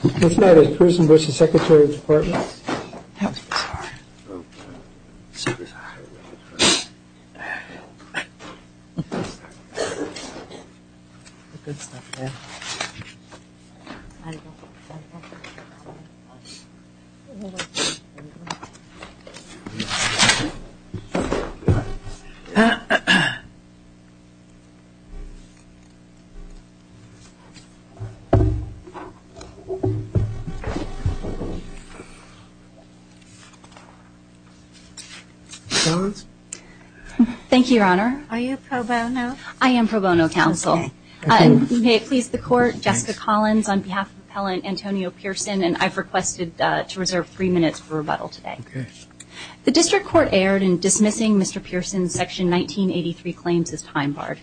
Tonight is Prison vs. Secretary Departments. The District Court erred in dismissing Mr. Pearson's Section 1983 claims as time-barred,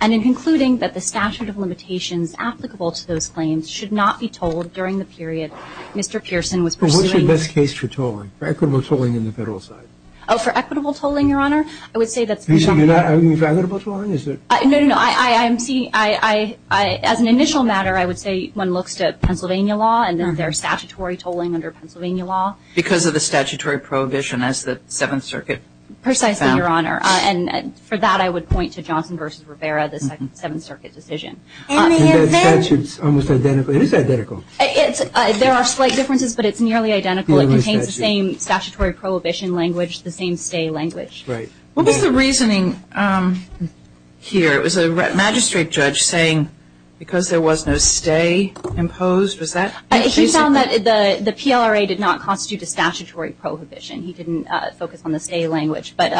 and in concluding that the statute of limitations applicable to those claims should not be told during the period Mr. Pearson was pursuing. But what's your best case for tolling, for equitable tolling in the federal side? Oh, for equitable tolling, Your Honor? I would say that's the case. Are you talking about equitable tolling? No, no, no. As an initial matter, I would say one looks to Pennsylvania law and their statutory tolling under Pennsylvania law. Because of the statutory prohibition as the Seventh Circuit found? No, Your Honor. And for that, I would point to Johnson v. Rivera, the Seventh Circuit decision. And that statute's almost identical. It is identical. There are slight differences, but it's nearly identical. It contains the same statutory prohibition language, the same stay language. What was the reasoning here? It was a magistrate judge saying because there was no stay imposed? He found that the PLRA did not constitute a statutory prohibition. He didn't focus on the stay language. But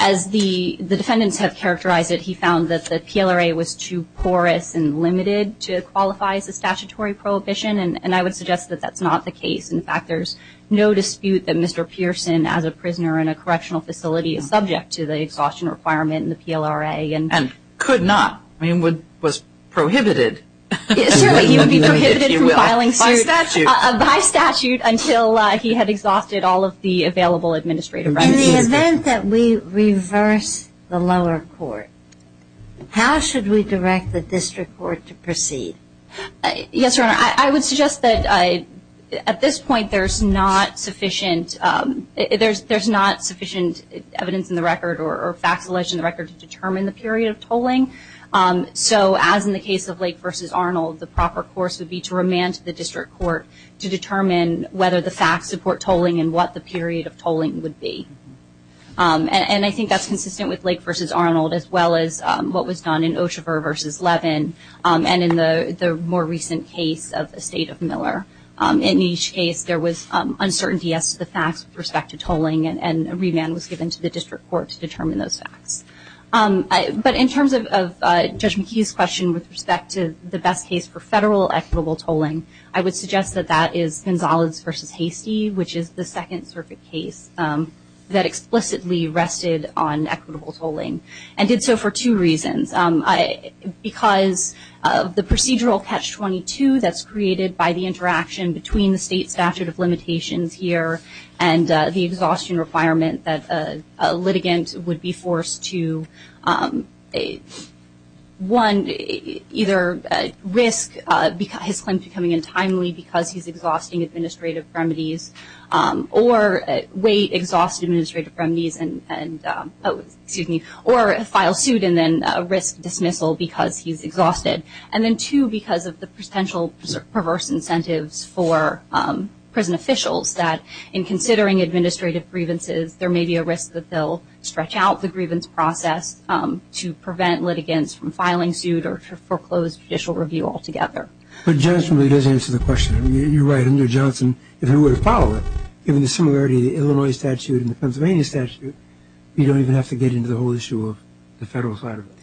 as the defendants have characterized it, he found that the PLRA was too porous and limited to qualify as a statutory prohibition. And I would suggest that that's not the case. In fact, there's no dispute that Mr. Pearson, as a prisoner in a correctional facility, is subject to the exhaustion requirement in the PLRA. And could not. I mean, was prohibited. Certainly he would be prohibited from filing suit by statute until he had exhausted all of the available administrative rights. In the event that we reverse the lower court, how should we direct the district court to proceed? Yes, Your Honor. I would suggest that at this point there's not sufficient evidence in the record or facts alleged in the record to determine the period of tolling. So as in the case of Lake v. Arnold, the proper course would be to remand to the district court to determine whether the facts support tolling and what the period of tolling would be. And I think that's consistent with Lake v. Arnold, as well as what was done in Oshaver v. Levin, and in the more recent case of the State of Miller. In each case, there was uncertainty as to the facts with respect to tolling, and a remand was given to the district court to determine those facts. But in terms of Judge McKee's question with respect to the best case for federal equitable tolling, I would suggest that that is Gonzales v. Hastie, which is the Second Circuit case that explicitly rested on equitable tolling, and did so for two reasons. Because of the procedural catch-22 that's created by the interaction between the state statute of limitations here and the exhaustion requirement that a litigant would be forced to, one, either risk his claim becoming untimely because he's exhausting administrative remedies, or wait, exhaust administrative remedies, or file suit and then risk dismissal because he's exhausted. And then, two, because of the potential perverse incentives for prison officials, that in considering administrative grievances, there may be a risk that they'll stretch out the grievance process to prevent litigants from filing suit or to foreclose judicial review altogether. But Johnson really does answer the question. You're right, under Johnson, if he were to file it, given the similarity of the Illinois statute and the Pennsylvania statute, you don't even have to get into the whole issue of the federal side of it.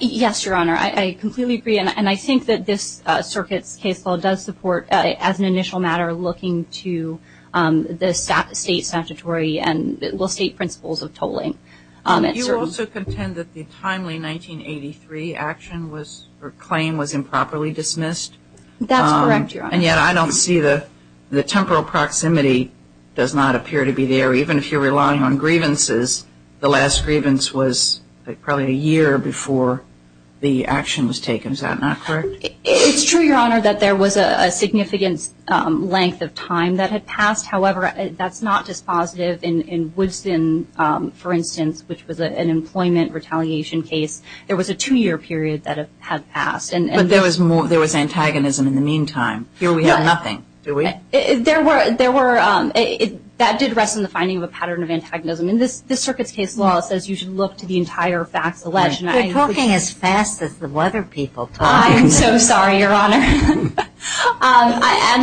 Yes, Your Honor. I completely agree. And I think that this circuit's case law does support, as an initial matter, looking to the state statutory and state principles of tolling. Do you also contend that the timely 1983 action or claim was improperly dismissed? That's correct, Your Honor. And yet I don't see the temporal proximity does not appear to be there. Even if you're relying on grievances, the last grievance was probably a year before the action was taken. Is that not correct? It's true, Your Honor, that there was a significant length of time that had passed. However, that's not dispositive. In Woodson, for instance, which was an employment retaliation case, there was a two-year period that had passed. But there was antagonism in the meantime. Here we have nothing, do we? That did rest in the finding of a pattern of antagonism. And this circuit's case law says you should look to the entire facts alleged. You're talking as fast as the weather people talk. I am so sorry, Your Honor. And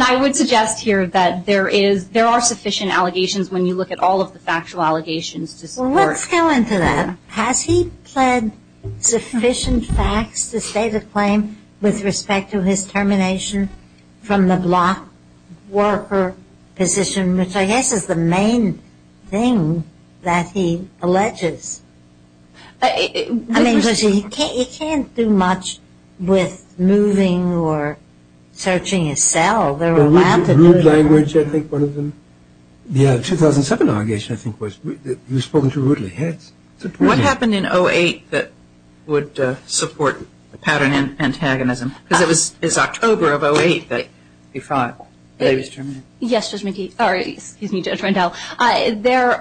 I would suggest here that there are sufficient allegations when you look at all of the factual allegations to support. Well, let's go into that. Has he pled sufficient facts to state a claim with respect to his termination from the block worker position, which I guess is the main thing that he alleges? I mean, because he can't do much with moving or searching his cell. Rude language, I think, one of them. The 2007 allegation, I think, was that he was spoken to rudely. What happened in 08 that would support the pattern of antagonism? Because it was October of 08 that he was terminated. Yes, Judge McKee. Sorry. Excuse me, Judge Rendell. There,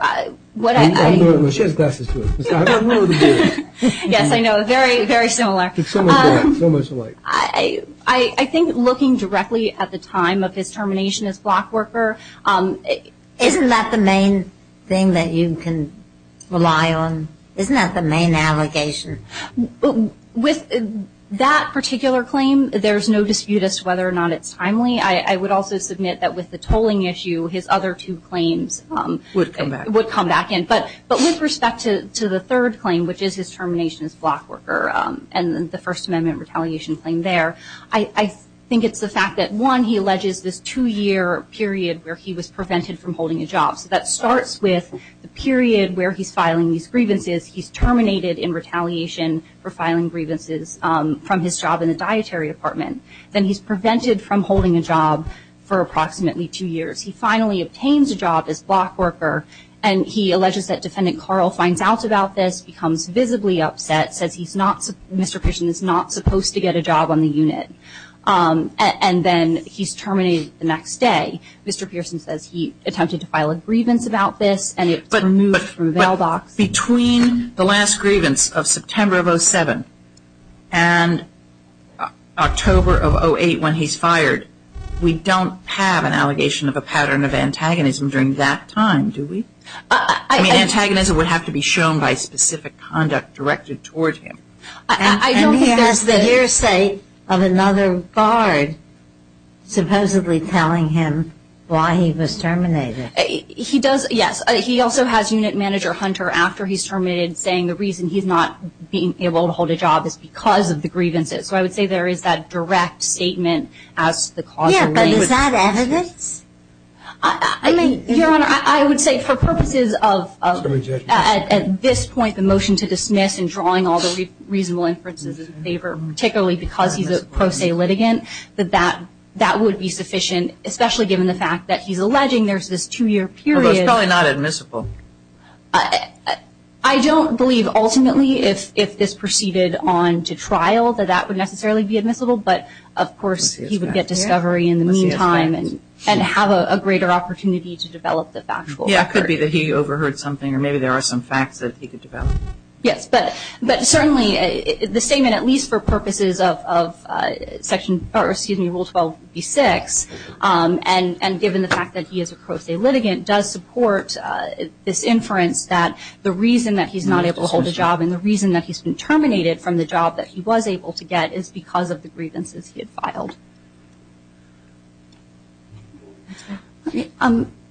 what I. She has glasses, too. Yes, I know. Very, very similar. So much alike. I think looking directly at the time of his termination as block worker. Isn't that the main thing that you can rely on? Isn't that the main allegation? With that particular claim, there's no dispute as to whether or not it's timely. I would also submit that with the tolling issue, his other two claims. Would come back. Would come back in. But with respect to the third claim, which is his termination as block worker, and the First Amendment retaliation claim there, I think it's the fact that, one, he alleges this two-year period where he was prevented from holding a job. So that starts with the period where he's filing these grievances. He's terminated in retaliation for filing grievances from his job in the dietary department. Then he's prevented from holding a job for approximately two years. He finally obtains a job as block worker. And he alleges that Defendant Carl finds out about this, becomes visibly upset, says Mr. Pearson is not supposed to get a job on the unit. And then he's terminated the next day. Mr. Pearson says he attempted to file a grievance about this. And it's removed from the bail box. But between the last grievance of September of 07 and October of 08 when he's fired, we don't have an allegation of a pattern of antagonism during that time, do we? I mean, antagonism would have to be shown by specific conduct directed toward him. I don't think that's the hearsay of another guard supposedly telling him why he was terminated. He does, yes. He also has Unit Manager Hunter, after he's terminated, saying the reason he's not being able to hold a job is because of the grievances. So I would say there is that direct statement as to the cause. Yeah, but is that evidence? Your Honor, I would say for purposes of at this point the motion to dismiss and drawing all the reasonable inferences in favor, particularly because he's a pro se litigant, that that would be sufficient, especially given the fact that he's alleging there's this two-year period. Well, it's probably not admissible. I don't believe ultimately if this proceeded on to trial that that would necessarily be admissible, but of course he would get discovery in the meantime and have a greater opportunity to develop the factual record. Yeah, it could be that he overheard something or maybe there are some facts that he could develop. Yes, but certainly the statement, at least for purposes of Rule 12B6, and given the fact that he is a pro se litigant, does support this inference that the reason that he's not able to hold a job and the reason that he's been terminated from the job that he was able to get is because of the grievances he had filed.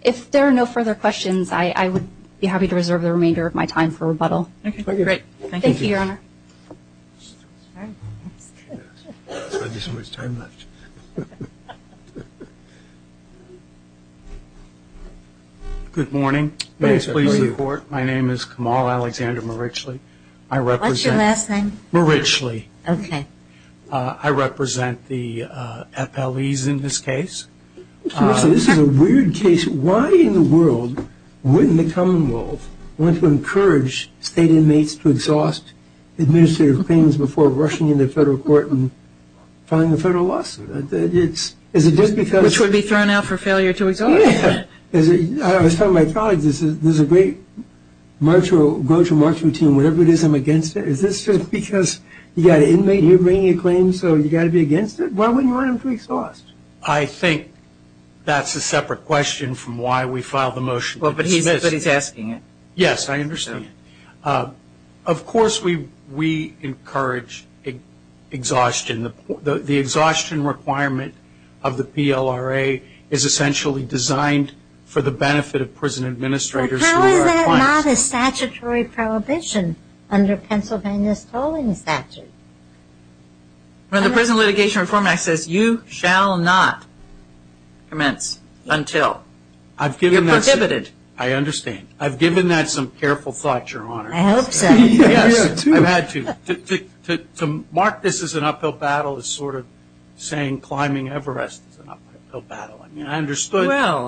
If there are no further questions, I would be happy to reserve the remainder of my time for rebuttal. Okay, great. Thank you, Your Honor. All right, that's good. There's not this much time left. Good morning. Please report. My name is Kamal Alexander Marichli. I represent... What's your last name? Marichli. Okay. I represent the FLEs in this case. This is a weird case. Why in the world wouldn't the commonwealth want to encourage state inmates to exhaust administrative claims before rushing into federal court and filing a federal lawsuit? Is it just because... Which would be thrown out for failure to exhaust. Yeah. I was telling my colleagues this is a great go-to-march routine. Whatever it is, I'm against it. Is this just because you've got an inmate here bringing a claim, so you've got to be against it? Why wouldn't you want him to exhaust? I think that's a separate question from why we filed the motion to dismiss. But he's asking it. Yes, I understand. Of course we encourage exhaustion. The exhaustion requirement of the PLRA is essentially designed for the benefit of prison administrators and their clients. How is that not a statutory prohibition under Pennsylvania's tolling statute? When the Prison Litigation Reform Act says you shall not commence until you're prohibited. I understand. I've given that some careful thought, Your Honor. I hope so. Yes, I've had to. To mark this as an uphill battle is sort of saying climbing Everest is an uphill battle. I mean, I understood. Well,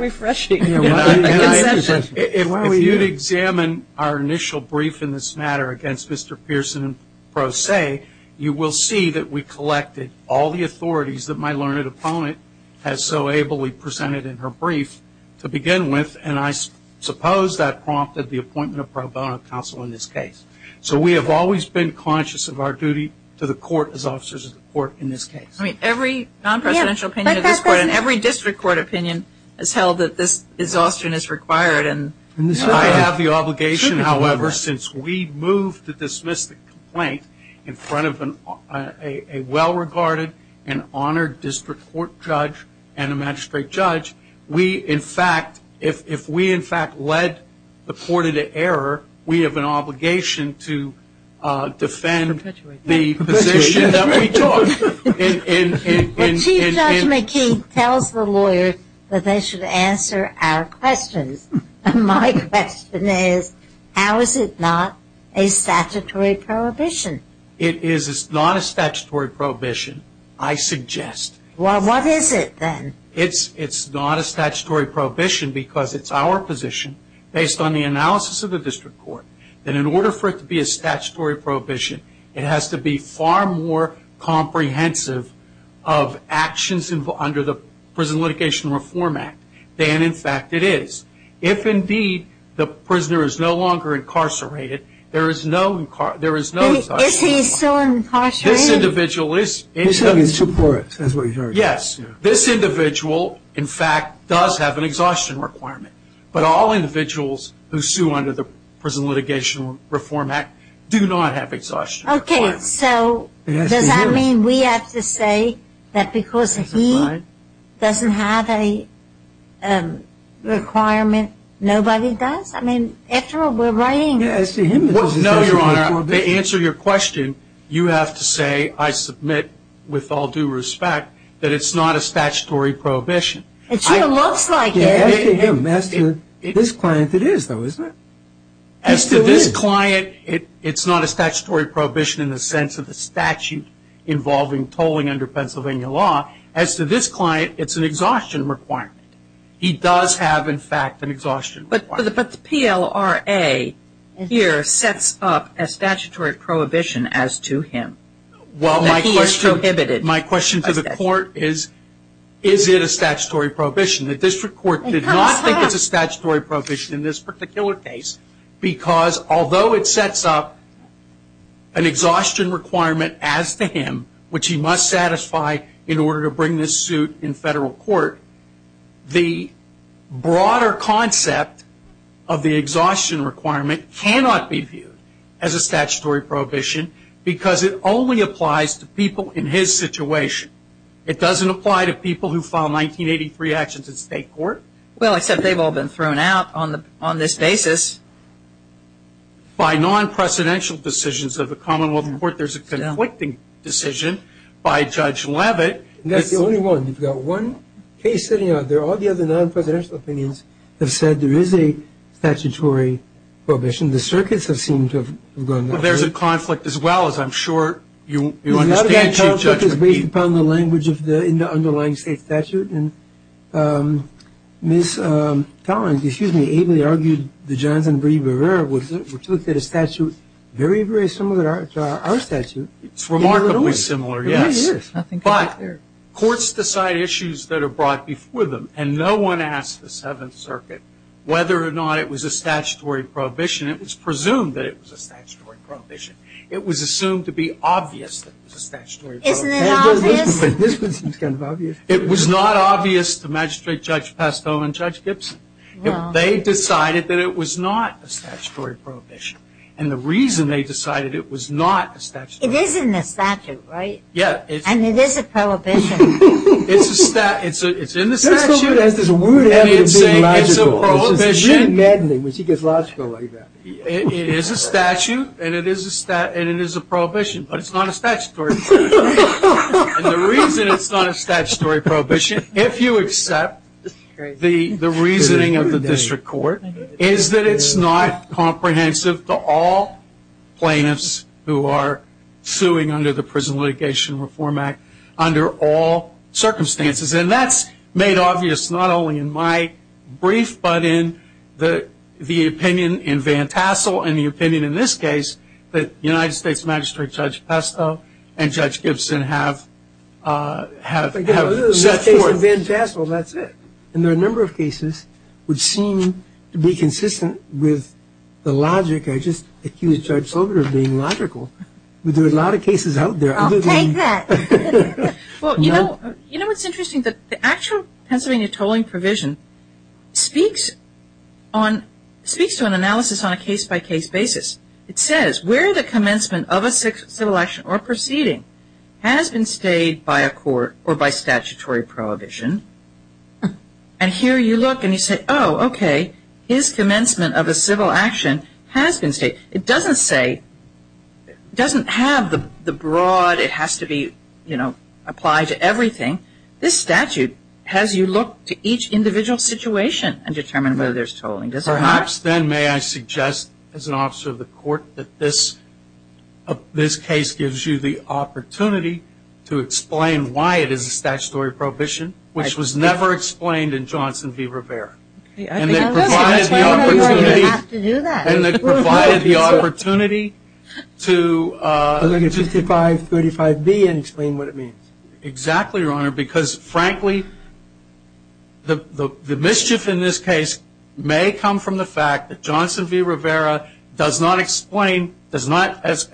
refreshing. If you'd examine our initial brief in this matter against Mr. Pearson and Pro Se, you will see that we collected all the authorities that my learned opponent has so ably presented in her brief to begin with. And I suppose that prompted the appointment of pro bono counsel in this case. So we have always been conscious of our duty to the court as officers of the court in this case. I mean, every non-presidential opinion of this court and every district court opinion has held that this exhaustion is required. I have the obligation, however, since we moved to dismiss the complaint in front of a well-regarded and honored district court judge and a magistrate judge, we, in fact, if we, in fact, led the court into error, we have an obligation to defend the position that we took. Chief Judge McKee tells the lawyers that they should answer our questions. My question is, how is it not a statutory prohibition? It is not a statutory prohibition, I suggest. Well, what is it then? It's not a statutory prohibition because it's our position, based on the analysis of the district court, that in order for it to be a statutory prohibition, it has to be far more comprehensive of actions under the Prison Litigation Reform Act than, in fact, it is. If, indeed, the prisoner is no longer incarcerated, there is no exhaustion requirement. Is he still incarcerated? This individual is. He's having two courts. Yes. This individual, in fact, does have an exhaustion requirement. But all individuals who sue under the Prison Litigation Reform Act do not have exhaustion requirements. Okay. So does that mean we have to say that because he doesn't have a requirement, nobody does? I mean, after all, we're writing. No, Your Honor. To answer your question, you have to say, I submit with all due respect, that it's not a statutory prohibition. It sure looks like it. As to him, as to this client, it is, though, isn't it? As to this client, it's not a statutory prohibition in the sense of the statute involving tolling under Pennsylvania law. As to this client, it's an exhaustion requirement. He does have, in fact, an exhaustion requirement. But the PLRA here sets up a statutory prohibition as to him. Well, my question to the court is, is it a statutory prohibition? The district court did not think it's a statutory prohibition in this particular case because although it sets up an exhaustion requirement as to him, which he must satisfy in order to bring this suit in federal court, the broader concept of the exhaustion requirement cannot be viewed as a statutory prohibition because it only applies to people in his situation. It doesn't apply to people who filed 1983 actions in state court. Well, except they've all been thrown out on this basis. By non-presidential decisions of the Commonwealth Court, there's a conflicting decision by Judge Leavitt. That's the only one. You've got one case sitting out there. All the other non-presidential opinions have said there is a statutory prohibition. The circuits have seemed to have gone that way. Well, there's a conflict as well, as I'm sure you understand, Chief Justice. I think it's based upon the language in the underlying state statute. And Ms. Collins, excuse me, ably argued that Johnson v. Rivera, which looked at a statute very, very similar to our statute. It's remarkably similar, yes. Yes, it is. But courts decide issues that are brought before them, and no one asked the Seventh Circuit whether or not it was a statutory prohibition. It was presumed that it was a statutory prohibition. It was assumed to be obvious that it was a statutory prohibition. Isn't it obvious? This one seems kind of obvious. It was not obvious to Magistrate Judge Pasto and Judge Gibson. They decided that it was not a statutory prohibition. And the reason they decided it was not a statutory prohibition. It is in the statute, right? Yes. And it is a prohibition. It's in the statute. That's the only reason it would ever be logical. It's a prohibition. It's really maddening when she gets logical like that. It is a statute, and it is a prohibition, but it's not a statutory prohibition. And the reason it's not a statutory prohibition, if you accept the reasoning of the district court, is that it's not comprehensive to all plaintiffs who are suing under the Prison Litigation Reform Act under all circumstances. And that's made obvious not only in my brief, but in the opinion in Van Tassel and the opinion in this case that United States Magistrate Judge Pasto and Judge Gibson have set forth. In this case and Van Tassel, that's it. And there are a number of cases which seem to be consistent with the logic. I just accused Judge Silver of being logical. There are a lot of cases out there. I'll take that. Well, you know what's interesting? The actual Pennsylvania tolling provision speaks to an analysis on a case-by-case basis. It says where the commencement of a civil action or proceeding has been stayed by a court or by statutory prohibition, and here you look and you say, oh, okay, his commencement of a civil action has been stayed. It doesn't say, it doesn't have the broad, it has to be, you know, applied to everything. This statute has you look to each individual situation and determine whether there's tolling. Does it not? Perhaps then may I suggest as an officer of the court that this case gives you the opportunity to explain why it is a statutory prohibition, which was never explained in Johnson v. Rivera. And they provided the opportunity to... I'm going to get 5535B and explain what it means. Exactly, Your Honor, because, frankly, the mischief in this case may come from the fact that Johnson v. Rivera does not explain, does not, as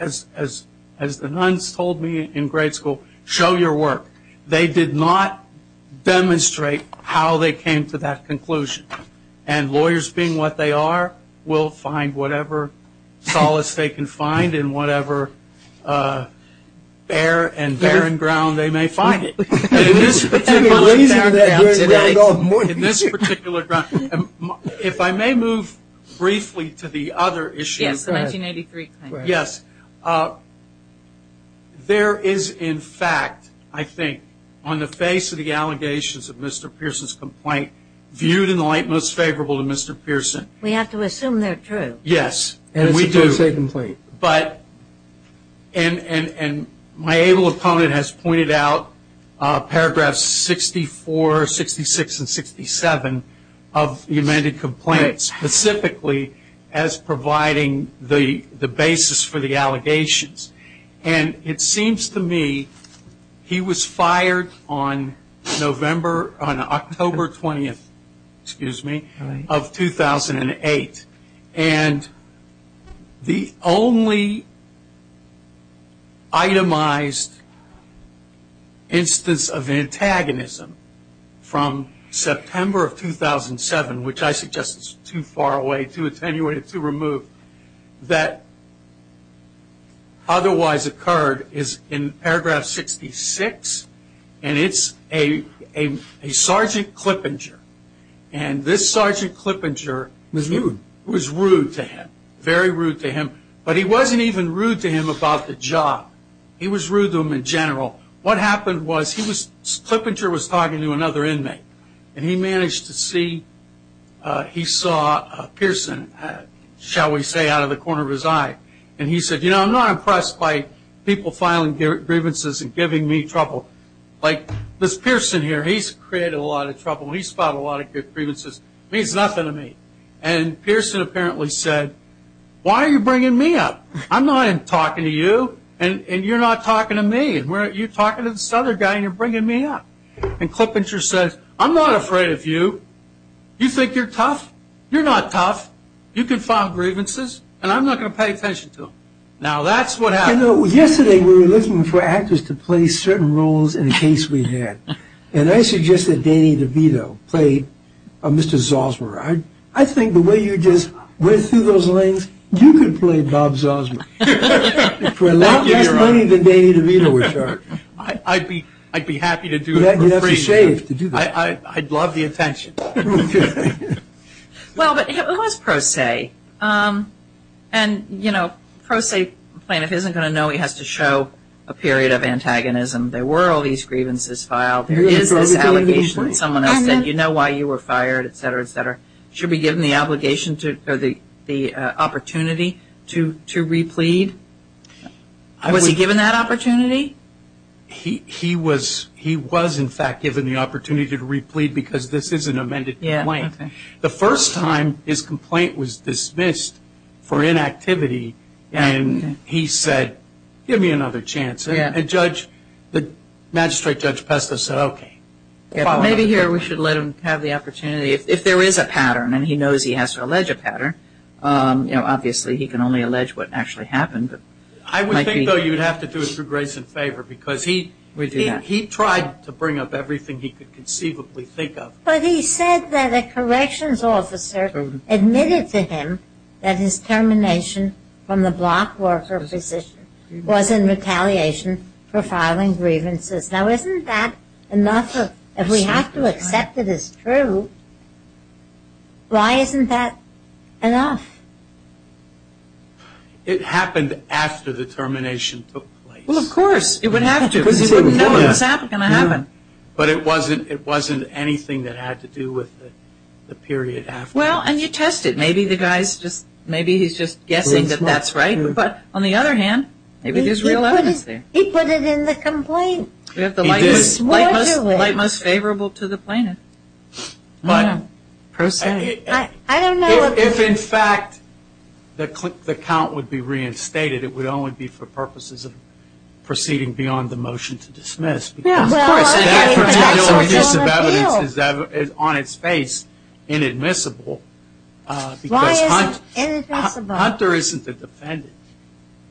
the nuns told me in grade school, show your work. They did not demonstrate how they came to that conclusion. And lawyers, being what they are, will find whatever solace they can find in whatever bare and barren ground they may find it. In this particular ground, if I may move briefly to the other issue. Yes, the 1983 claim. Yes. There is, in fact, I think, on the face of the allegations of Mr. Pearson's complaint, viewed in the light most favorable to Mr. Pearson. We have to assume they're true. Yes, and we do. And it's supposed to be a complaint. And my able opponent has pointed out paragraphs 64, 66, and 67 of the amended complaint, specifically as providing the basis for the allegations. And it seems to me he was fired on October 20th of 2008. And the only itemized instance of antagonism from September of 2007, which I suggest is too far away, too attenuated, too removed, that otherwise occurred is in paragraph 66. And it's a Sergeant Clippinger. And this Sergeant Clippinger was rude to him, very rude to him. But he wasn't even rude to him about the job. He was rude to him in general. What happened was Clippinger was talking to another inmate. And he managed to see he saw Pearson, shall we say, out of the corner of his eye. And he said, you know, I'm not impressed by people filing grievances and giving me trouble. Like this Pearson here, he's created a lot of trouble. He's filed a lot of grievances. It means nothing to me. And Pearson apparently said, why are you bringing me up? I'm not talking to you. And you're not talking to me. You're talking to this other guy, and you're bringing me up. And Clippinger says, I'm not afraid of you. You think you're tough? You're not tough. You can file grievances, and I'm not going to pay attention to them. Now, that's what happened. You know, yesterday we were looking for actors to play certain roles in a case we had. And I suggested Danny DeVito play Mr. Zosmer. I think the way you just went through those lanes, you could play Bob Zosmer. For a lot less money than Danny DeVito would charge. I'd be happy to do it for free. You'd have to shave to do that. I'd love the attention. Well, but it was pro se. And, you know, pro se plaintiff isn't going to know he has to show a period of antagonism. There were all these grievances filed. There is this allegation that someone else said, you know why you were fired, et cetera, et cetera. Should we give him the obligation or the opportunity to replead? Was he given that opportunity? He was, in fact, given the opportunity to replead because this is an amended complaint. The first time his complaint was dismissed for inactivity, and he said, give me another chance. And the magistrate, Judge Pesto, said, okay. Maybe here we should let him have the opportunity. If there is a pattern, and he knows he has to allege a pattern, you know, I would think, though, you'd have to do it through grace and favor because he tried to bring up everything he could conceivably think of. But he said that a corrections officer admitted to him that his termination from the block worker position was in retaliation for filing grievances. Now, isn't that enough? If we have to accept it as true, why isn't that enough? It happened after the termination took place. Well, of course. It would have to. Because he wouldn't know it was going to happen. But it wasn't anything that had to do with the period after. Well, and you tested. Maybe the guy's just, maybe he's just guessing that that's right. But on the other hand, maybe there's real evidence there. He put it in the complaint. He did. We have the light most favorable to the plaintiff, per se. If, in fact, the count would be reinstated, it would only be for purposes of proceeding beyond the motion to dismiss. Because, of course, that particular piece of evidence is on its face inadmissible. Why is it inadmissible? Because Hunter isn't the defendant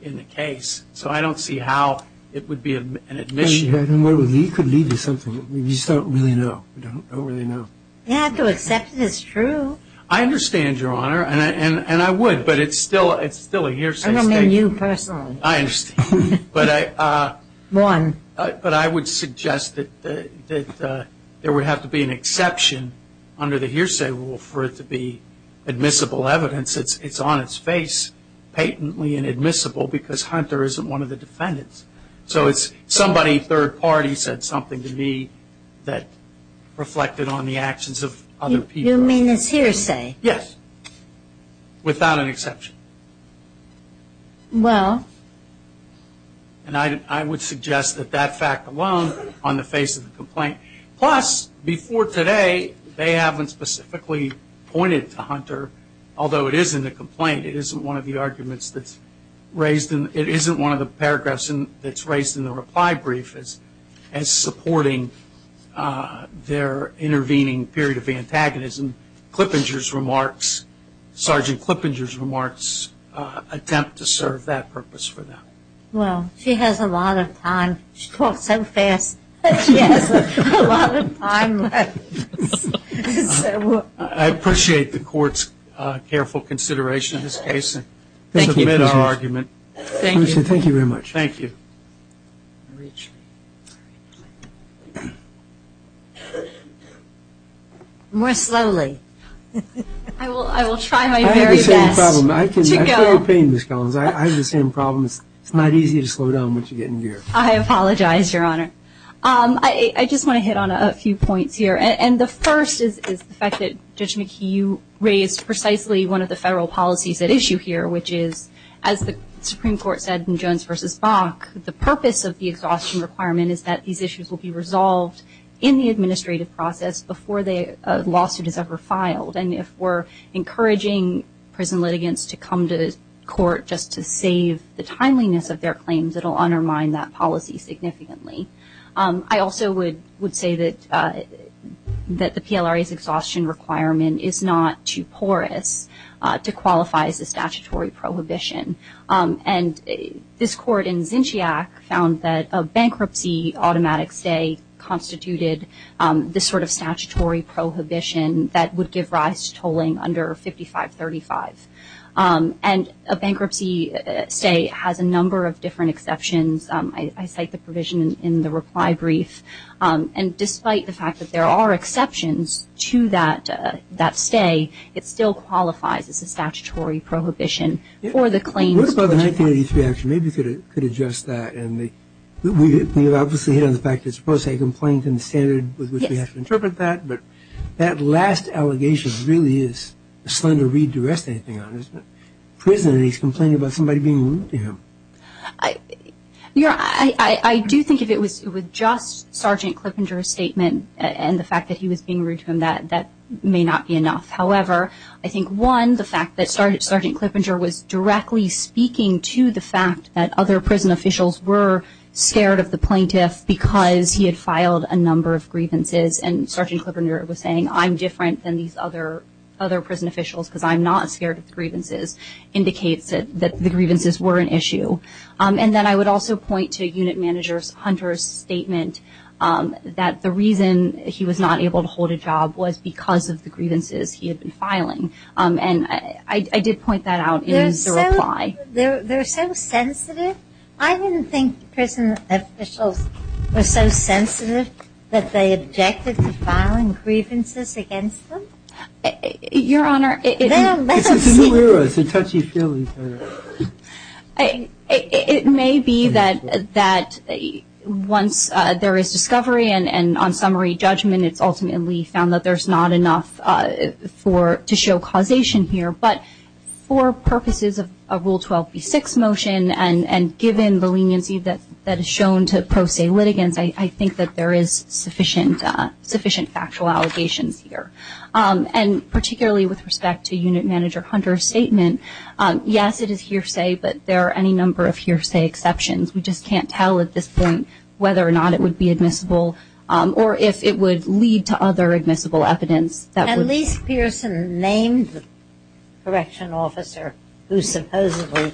in the case. So I don't see how it would be an admission. He could lead to something. We just don't really know. We don't really know. You have to accept that it's true. I understand, Your Honor. And I would. But it's still a hearsay statement. I don't mean you personally. I understand. But I would suggest that there would have to be an exception under the hearsay rule for it to be admissible evidence. It's on its face patently inadmissible because Hunter isn't one of the defendants. So it's somebody third party said something to me that reflected on the actions of other people. You mean it's hearsay? Yes, without an exception. Well? And I would suggest that that fact alone on the face of the complaint. Plus, before today, they haven't specifically pointed to Hunter, although it is in the complaint. It isn't one of the arguments that's raised. It isn't one of the paragraphs that's raised in the reply brief as supporting their intervening period of antagonism. Clippinger's remarks, Sergeant Clippinger's remarks attempt to serve that purpose for them. Well, she has a lot of time. She talks so fast that she has a lot of time left. I appreciate the court's careful consideration of this case. Thank you very much. Thank you. More slowly. I will try my very best to go. I have the same problem. It's not easy to slow down once you get into gear. I apologize, Your Honor. I just want to hit on a few points here. And the first is the fact that Judge McHugh raised precisely one of the federal policies at issue here, which is, as the Supreme Court said in Jones v. Bach, the purpose of the exhaustion requirement is that these issues will be resolved in the administrative process before a lawsuit is ever filed. And if we're encouraging prison litigants to come to court just to save the timeliness of their claims, it will undermine that policy significantly. I also would say that the PLRA's exhaustion requirement is not too porous to qualify as a statutory prohibition. And this court in Zinchiaq found that a bankruptcy automatic stay constituted this sort of statutory prohibition that would give rise to tolling under 5535. And a bankruptcy stay has a number of different exceptions. I cite the provision in the reply brief. And despite the fact that there are exceptions to that stay, it still qualifies as a statutory prohibition for the claims. What about the 1983 action? Maybe you could address that. And we have obviously hit on the fact that it's supposed to be a complaint in the standard with which we have to interpret that. But that last allegation really is a slender reed to rest anything on, isn't it? I do think if it was just Sergeant Klippinger's statement and the fact that he was being rude to him, that may not be enough. However, I think, one, the fact that Sergeant Klippinger was directly speaking to the fact that other prison officials were scared of the plaintiff because he had filed a number of grievances, and Sergeant Klippinger was saying I'm different than these other prison officials because I'm not scared of the grievances. Indicates that the grievances were an issue. And then I would also point to Unit Manager Hunter's statement that the reason he was not able to hold a job was because of the grievances he had been filing. And I did point that out in his reply. They're so sensitive. I didn't think prison officials were so sensitive that they objected to filing grievances against them. Your Honor. It's a new era. It's a touchy-feely era. It may be that once there is discovery and on summary judgment, it's ultimately found that there's not enough to show causation here. But for purposes of a Rule 12b-6 motion and given the leniency that is shown to pro se litigants, I think that there is sufficient factual allegations here. And particularly with respect to Unit Manager Hunter's statement, yes, it is hearsay, but there are any number of hearsay exceptions. We just can't tell at this point whether or not it would be admissible or if it would lead to other admissible evidence. At least Pearson named the correctional officer who supposedly,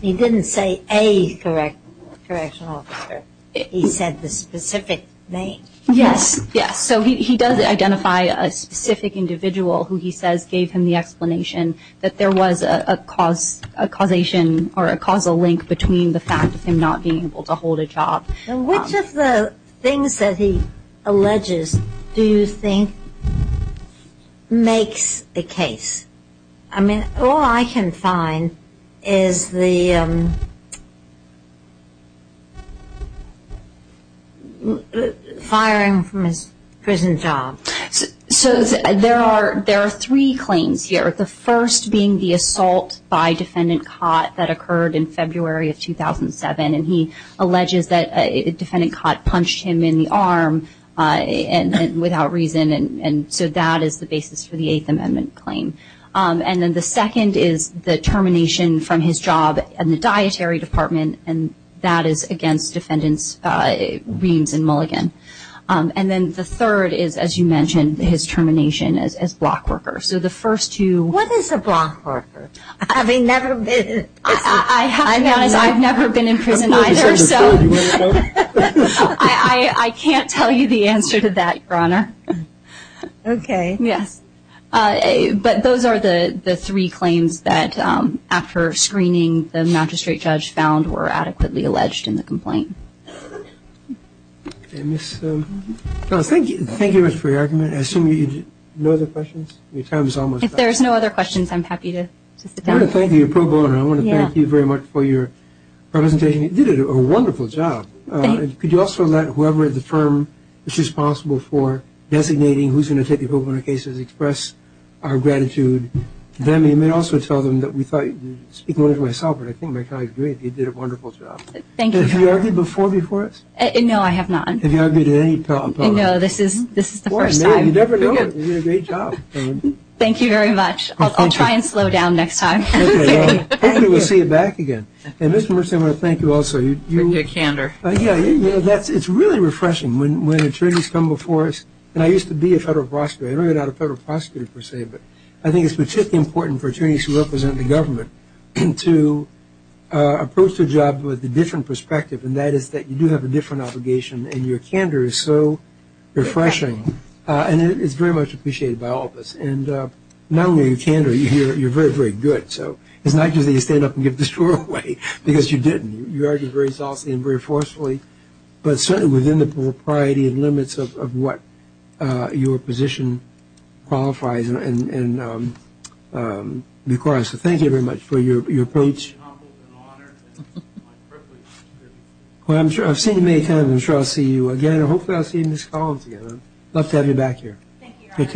he didn't say a correctional officer. He said the specific name. Yes. Yes, so he does identify a specific individual who he says gave him the explanation that there was a causation or a causal link between the fact of him not being able to hold a job. Which of the things that he alleges do you think makes the case? All I can find is the firing from his prison job. So there are three claims here, the first being the assault by Defendant Cott that occurred in February of 2007, and he alleges that Defendant Cott punched him in the arm without reason, and so that is the basis for the Eighth Amendment claim. And then the second is the termination from his job in the dietary department, and that is against Defendant Reams and Mulligan. And then the third is, as you mentioned, his termination as block worker. So the first two. What is a block worker? I mean, I've never been in prison either, so I can't tell you the answer to that, Your Honor. Okay. Yes. But those are the three claims that, after screening, the magistrate judge found were adequately alleged in the complaint. Thank you very much for your argument. I assume you have no other questions? Your time is almost up. If there's no other questions, I'm happy to sit down. I want to thank you, Pro Bono. You did a wonderful job. Thank you. You also let whoever at the firm which is responsible for designating who's going to take the pro bono cases express our gratitude to them. You may also tell them that we thought you'd speak more to myself, but I think my colleague's great. You did a wonderful job. Thank you. Have you argued before before us? No, I have not. Have you argued at any pro bono? No, this is the first time. You never know. You did a great job. Thank you very much. I'll try and slow down next time. Okay. Well, hopefully we'll see you back again. And, Mr. Mercer, I want to thank you also. You did candor. Yeah, it's really refreshing. When attorneys come before us, and I used to be a federal prosecutor. I'm not a federal prosecutor per se, but I think it's particularly important for attorneys who represent the government to approach the job with a different perspective, and that is that you do have a different obligation, and your candor is so refreshing. And it's very much appreciated by all of us. And not only your candor, you're very, very good. So it's not easy to stand up and give this away because you didn't. You argued very solidly and very forcefully, but certainly within the propriety and limits of what your position qualifies and requires. So thank you very much for your approach. It's an honor. Well, I've seen you many times. I'm sure I'll see you again, and hopefully I'll see you in this column again. I'd love to have you back here. Thank you, Your Honor.